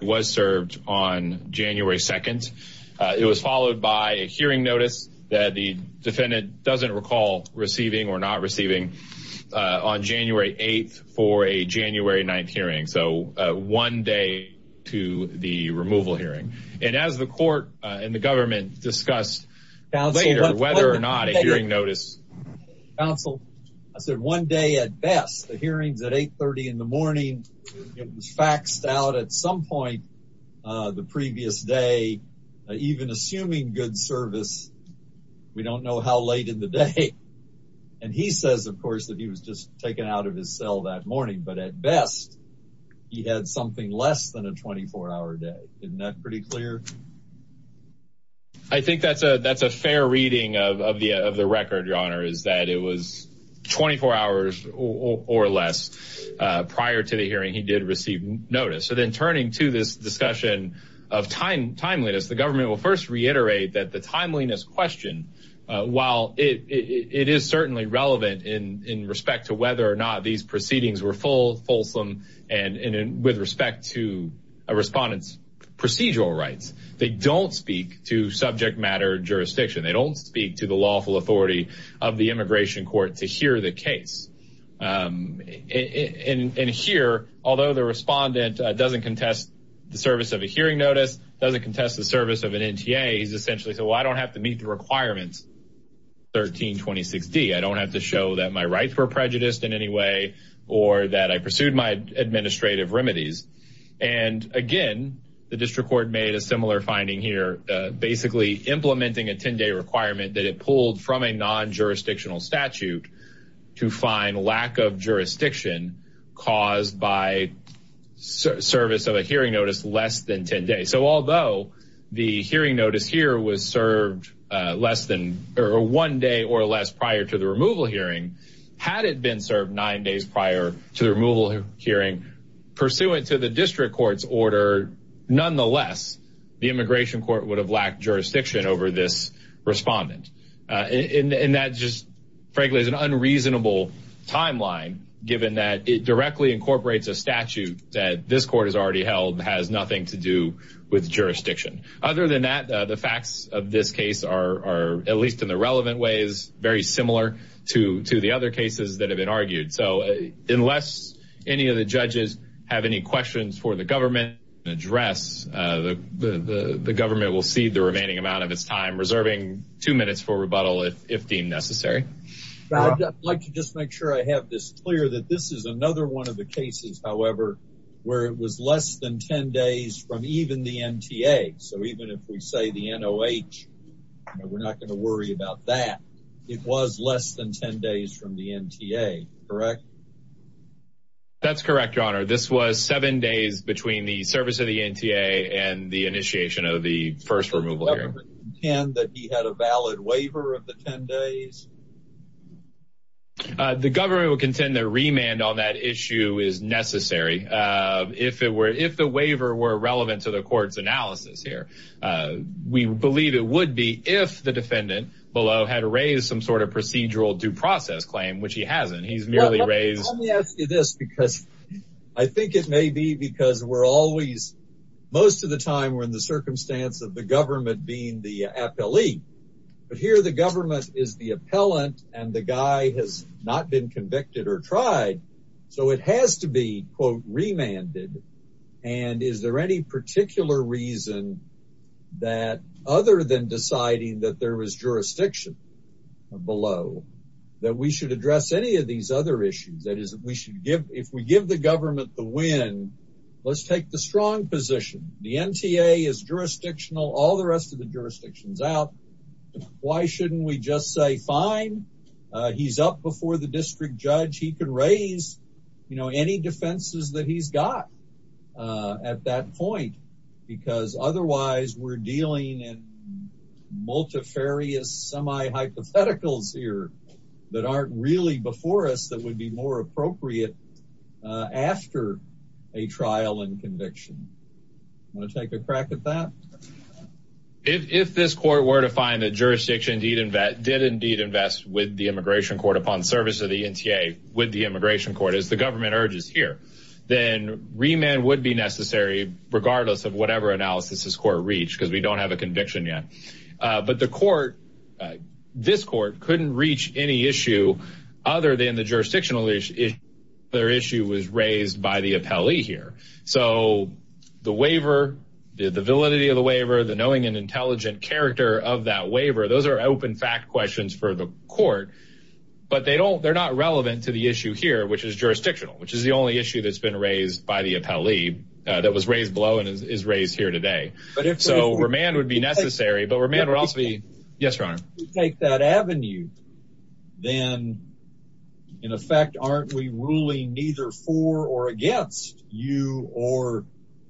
Was served on January 2nd. It was followed by a hearing notice that the defendant doesn't recall receiving or not receiving on January 8th for a January 9th hearing. So one day after the hearing, the defendant was not able to receive a hearing notice. to the removal hearing. And as the court and the government discussed later whether or not a hearing notice counsel, I said one day at best, the hearings at 830 in the morning. It was faxed out at some point the previous day, even assuming good service. We don't know how late in the day. And he says, of course, that he was just taken out of his cell that morning. But at best, he had something less than a 24 hour day. Isn't that pretty clear? I think that's a that's a fair reading of the of the record, your honor, is that it was 24 hours or less prior to the hearing. He did receive notice. So then turning to this discussion of time, timeliness, the government will first reiterate that the timeliness question, while it is certainly relevant in respect to whether or not these proceedings were full, fulsome and with respect to a respondent's procedural rights. They don't speak to subject matter jurisdiction. They don't speak to the lawful authority of the immigration court to hear the case. And here, although the respondent doesn't contest the service of a hearing notice, doesn't contest the service of an NTA is essentially. So I don't have to meet the requirements. 1326 D, I don't have to show that my rights were prejudiced in any way or that I pursued my administrative remedies. And again, the district court made a similar finding here, basically implementing a 10 day requirement that it pulled from a non jurisdictional statute to find lack of jurisdiction caused by service of a hearing notice less than 10 days. So although the hearing notice here was served less than one day or less prior to the removal hearing, had it been served nine days prior to the removal hearing pursuant to the district court's order, nonetheless, the immigration court would have lacked jurisdiction over this respondent in that just frankly is an unreasonable timeline, given that it directly incorporates a statute that this court has already held, has nothing to do with jurisdiction. Other than that, the facts of this case are, at least in the relevant ways, very similar to the other cases that have been argued. So unless any of the judges have any questions for the government address, the government will cede the remaining amount of its time, reserving two minutes for rebuttal if deemed necessary. I'd like to just make sure I have this clear that this is another one of the cases, however, where it was less than 10 days from even the NTA. So even if we say the NOH, we're not going to worry about that. It was less than 10 days from the NTA, correct? That's correct, Your Honor. This was seven days between the service of the NTA and the initiation of the first removal hearing. Would the government contend that he had a valid waiver of the 10 days? The government would contend that remand on that issue is necessary. If the waiver were relevant to the court's analysis here, we believe it would be if the defendant below had raised some sort of procedural due process claim, which he hasn't. He's merely raised... I think it may be because we're always, most of the time we're in the circumstance of the government being the appellee. But here the government is the appellant and the guy has not been convicted or tried. So it has to be, quote, remanded. And is there any particular reason that, other than deciding that there was jurisdiction below, that we should address any of these other issues? That is, if we give the government the win, let's take the strong position. The NTA is jurisdictional, all the rest of the jurisdiction's out. Why shouldn't we just say, fine, he's up before the district judge. He can raise, you know, any defenses that he's got. At that point, because otherwise we're dealing in multifarious semi-hypotheticals here that aren't really before us that would be more appropriate after a trial and conviction. Want to take a crack at that? If this court were to find that jurisdiction did indeed invest with the immigration court upon service of the NTA with the immigration court, as the government urges here, then remand would be necessary regardless of whatever analysis this court reached, because we don't have a conviction yet. But the court, this court, couldn't reach any issue other than the jurisdictional issue. Their issue was raised by the appellee here. So the waiver, the validity of the waiver, the knowing and intelligent character of that waiver, those are open fact questions for the court, but they don't, they're not relevant to the issue here, which is jurisdictional, which is the only issue that's been raised by the appellee that was raised below and is raised here today. So remand would be necessary, but remand would also be. Yes, Your Honor. Take that avenue, then in effect, aren't we ruling neither for or against you or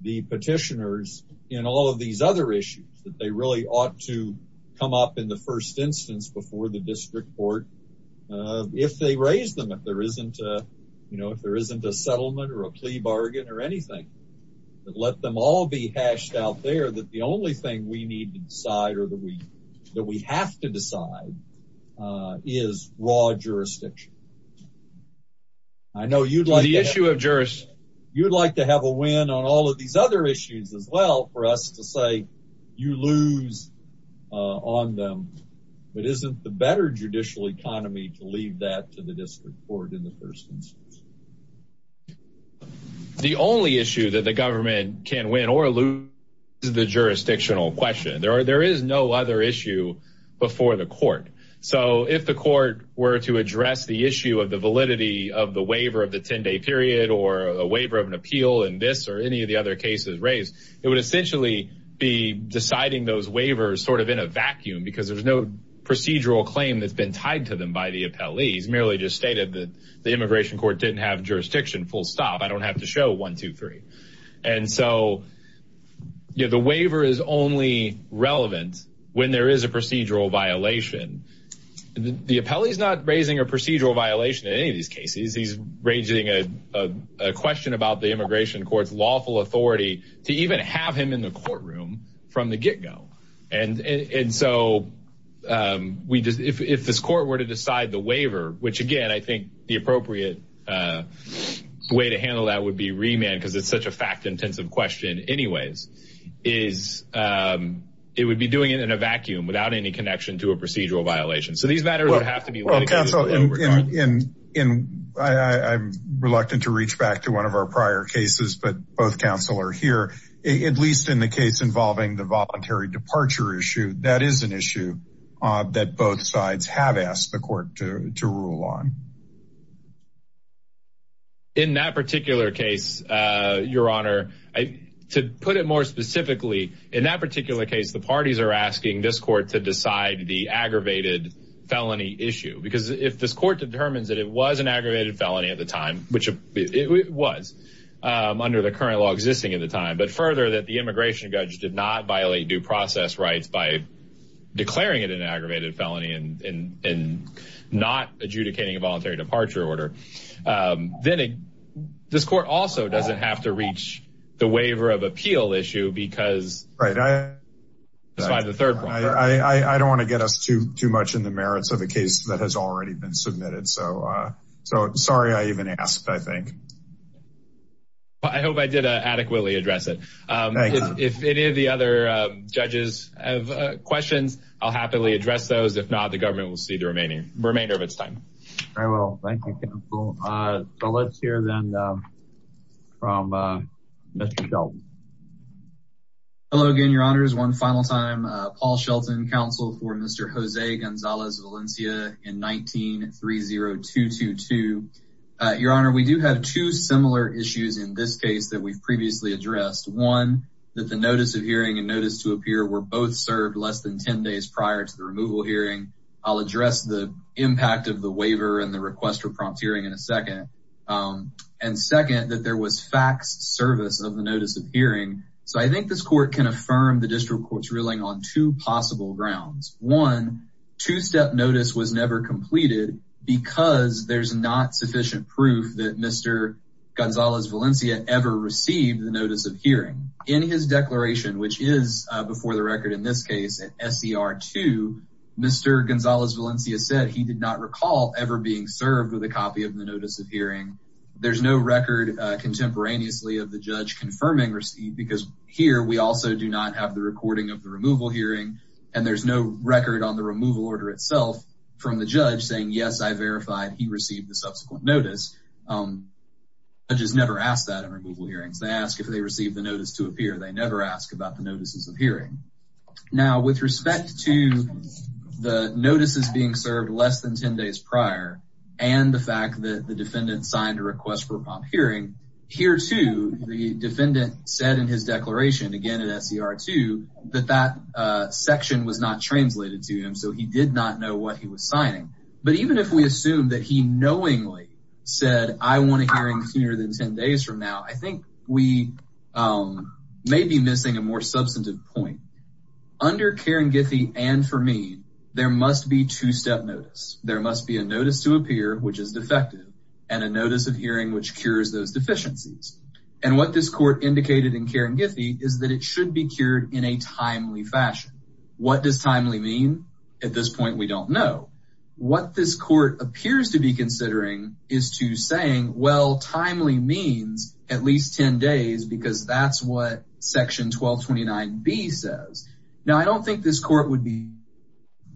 the petitioners in all of these other issues that they really ought to come up in the first instance before the district court, if they raise them, if there isn't a, you know, if there isn't a settlement or a plea bargain or anything, let them all be hashed out. There, that the only thing we need to decide or that we, that we have to decide is raw jurisdiction. I know you'd like the issue of jurists. You'd like to have a win on all of these other issues as well for us to say you lose on them, but isn't the better judicial economy to leave that to the district court in the first instance? The only issue that the government can win or lose is the jurisdictional question. There are there is no other issue before the court. So if the court were to address the issue of the validity of the waiver of the 10 day period or a waiver of an appeal in this or any of the other cases raised, it would essentially be deciding those waivers sort of in a vacuum because there's no procedural claim that's been tied to them by the appellees. Merely just stated that the immigration court didn't have jurisdiction. Full stop. I don't have to show one, two, three. And so the waiver is only relevant when there is a procedural violation. The appellee is not raising a procedural violation in any of these cases. He's raising a question about the immigration court's lawful authority to even have him in the courtroom from the get go. And so if this court were to decide the waiver, which again, I think the appropriate way to handle that would be remand because it's such a fact intensive question anyways, is it would be doing it in a vacuum without any connection to a procedural violation. So these matters would have to be canceled. And I'm reluctant to reach back to one of our prior cases. But both counsel are here, at least in the case involving the voluntary departure issue. That is an issue that both sides have asked the court to rule on. In that particular case, your honor, to put it more specifically, in that particular case, the parties are asking this court to decide the aggravated felony issue because if this court determines that it was an aggravated felony at the time, which it was under the current law existing at the time, but further, that the immigration judge did not violate due process rights by declaring it an aggravated felony and not adjudicating a voluntary departure. Order then this court also doesn't have to reach the waiver of appeal issue because right. I was by the third one. I don't want to get us to too much in the merits of a case that has already been submitted. So so sorry. I even asked, I think. I hope I did adequately address it. If any of the other judges have questions, I'll happily address those. If not, the government will see the remaining remainder of its time. Very well. Thank you, counsel. So let's hear then from Mr. Shelton. Hello again, your honors. One final time. Paul Shelton, counsel for Mr. Jose Gonzalez Valencia in 19-30222. Your honor, we do have two similar issues in this case that we've previously addressed. One, that the notice of hearing and notice to appear were both served less than 10 days prior to the removal hearing. I'll address the impact of the waiver and the request for prompt hearing in a second. And second, that there was faxed service of the notice of hearing. So I think this court can affirm the district court's ruling on two possible grounds. One, two-step notice was never completed because there's not sufficient proof that Mr. In his declaration, which is before the record in this case at SER 2, Mr. Gonzalez Valencia said he did not recall ever being served with a copy of the notice of hearing. There's no record contemporaneously of the judge confirming receipt because here we also do not have the recording of the removal hearing, and there's no record on the removal order itself from the judge saying, yes, I verified he received the subsequent notice. Um, judges never ask that in removal hearings. They ask if they received the notice to appear. They never ask about the notices of hearing. Now, with respect to the notices being served less than 10 days prior, and the fact that the defendant signed a request for prompt hearing, here too, the defendant said in his declaration, again at SER 2, that that section was not translated to him. So he did not know what he was signing. But even if we assume that he knowingly said, I want a hearing sooner than 10 days from now, I think we, um, may be missing a more substantive point. Under Karen Githy, and for me, there must be two-step notice. There must be a notice to appear, which is defective, and a notice of hearing, which cures those deficiencies. And what this court indicated in Karen Githy is that it should be cured in a timely fashion. What does timely mean? At this point, we don't know. What this court appears to be considering is to saying, well, timely means at least 10 days, because that's what section 1229B says. Now, I don't think this court would be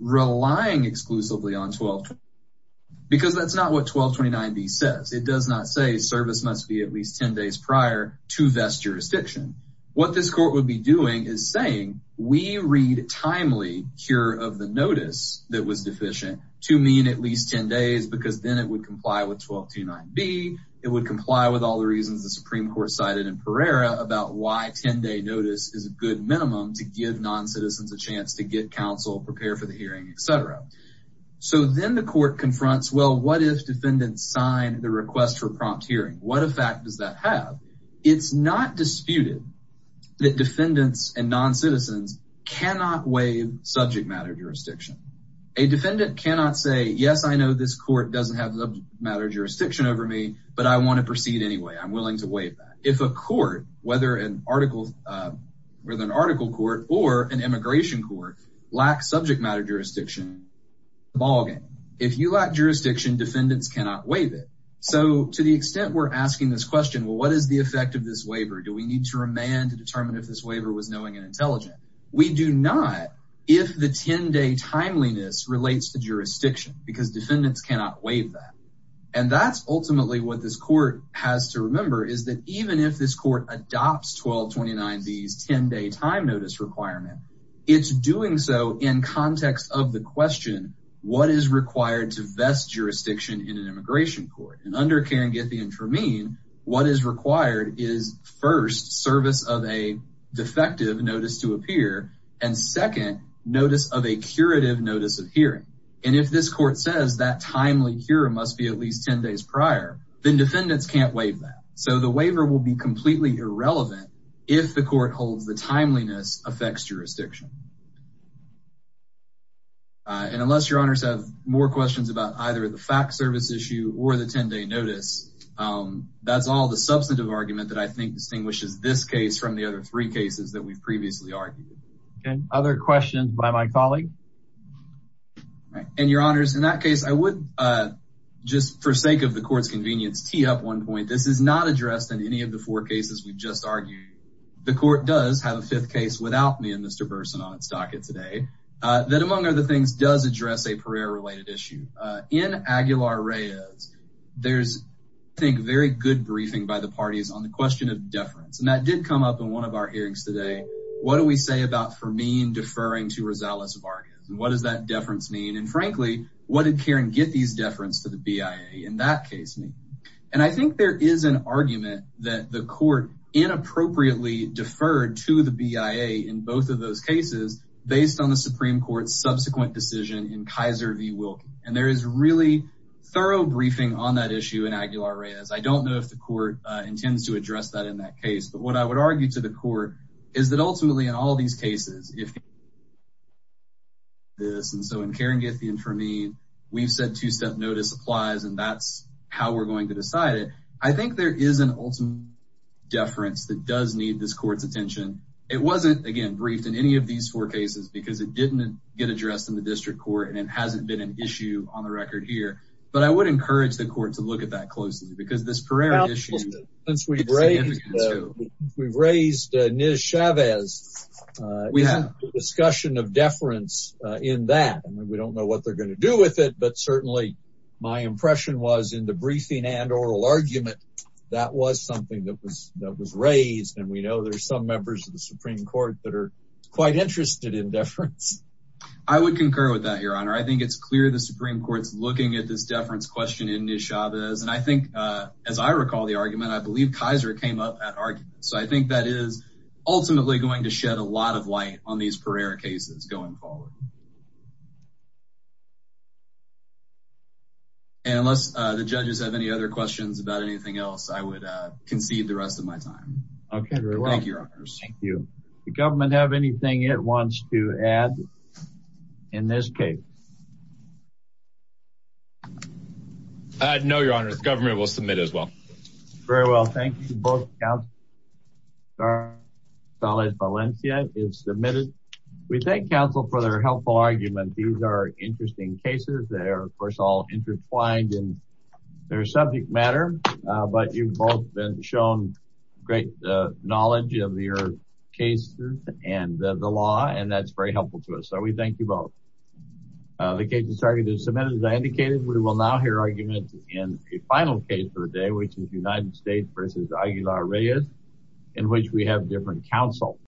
relying exclusively on 1229B, because that's not what 1229B says. It does not say service must be at least 10 days prior to vest jurisdiction. What this court would be doing is saying, we read timely cure of the notice that was deficient to mean at least 10 days, because then it would comply with 1229B. It would comply with all the reasons the Supreme Court cited in Pereira about why 10-day notice is a good minimum to give non-citizens a chance to get counsel, prepare for the hearing, et cetera. So then the court confronts, well, what if defendants sign the request for prompt hearing? What effect does that have? It's not disputed that defendants and non-citizens cannot waive subject matter jurisdiction. A defendant cannot say, yes, I know this court doesn't have subject matter jurisdiction over me, but I want to proceed anyway. I'm willing to waive that. If a court, whether an article court or an immigration court, lacks subject matter jurisdiction, it's a ballgame. If you lack jurisdiction, defendants cannot waive it. So to the extent we're asking this question, well, what is the effect of this waiver? Do we need to remand to determine if this waiver was knowing and intelligent? We do not, if the 10-day timeliness relates to jurisdiction, because defendants cannot waive that. And that's ultimately what this court has to remember, is that even if this court adopts 1229B's 10-day time notice requirement, it's doing so in context of the question, what is required to vest jurisdiction in an immigration court? And under Karen Githy and Tremaine, what is required is first, service of a defective notice to appear, and second, notice of a curative notice of hearing. And if this court says that timely cure must be at least 10 days prior, then defendants can't waive that. So the waiver will be completely irrelevant if the court holds the timeliness affects jurisdiction. And unless your honors have more questions about either the fact service issue or the 10-day notice, that's all the substantive argument that I think distinguishes this case from the other three cases that we've previously argued. Okay, other questions by my colleague? And your honors, in that case, I would just, for sake of the court's convenience, tee up one point. This is not addressed in any of the four cases we've just argued. The court does have a fifth case without me and Mr. Burson. On its docket today, that among other things, does address a Pereira-related issue. In Aguilar-Reyes, there's, I think, very good briefing by the parties on the question of deference. And that did come up in one of our hearings today. What do we say about Fermin deferring to Rosales-Vargas? And what does that deference mean? And frankly, what did Karen Githy's deference to the BIA in that case mean? And I think there is an argument that the court inappropriately deferred to the BIA in both of those cases based on the Supreme Court's subsequent decision in Kaiser v. Wilkie. And there is really thorough briefing on that issue in Aguilar-Reyes. I don't know if the court intends to address that in that case. But what I would argue to the court is that ultimately, in all these cases, if this, and so in Karen Githy and Fermin, we've said two-step notice applies, and that's how we're going to decide it. I think there is an ultimate deference that does need this court's attention. It wasn't, again, briefed in any of these four cases, because it didn't get addressed in the district court, and it hasn't been an issue on the record here. But I would encourage the court to look at that closely, because this Pereira issue is significant too. Since we've raised Niz Chavez, isn't the discussion of deference in that? We don't know what they're going to do with it, but certainly my impression was in the briefing and oral argument, that was something that was raised. We know there's some members of the Supreme Court that are quite interested in deference. I would concur with that, Your Honor. I think it's clear the Supreme Court's looking at this deference question in Niz Chavez. And I think, as I recall the argument, I believe Kaiser came up at argument. So I think that is ultimately going to shed a lot of light on these Pereira cases going forward. And unless the judges have any other questions about anything else, I would concede the rest of my time. Okay, very well. Thank you, Your Honors. Thank you. The government have anything it wants to add in this case? No, Your Honors. The government will submit as well. Very well. Thank you both. Counselor Valencia is submitted. We thank counsel for their helpful argument. These are interesting cases. They are, of course, all intertwined in their subject matter, but you've both been shown great knowledge of your cases and the law, and that's very helpful to us. So we thank you both. The case has started to submit. As I indicated, we will now hear arguments in a final case for the day, which is United States versus Aguilar-Reyes, in which we have different counsel.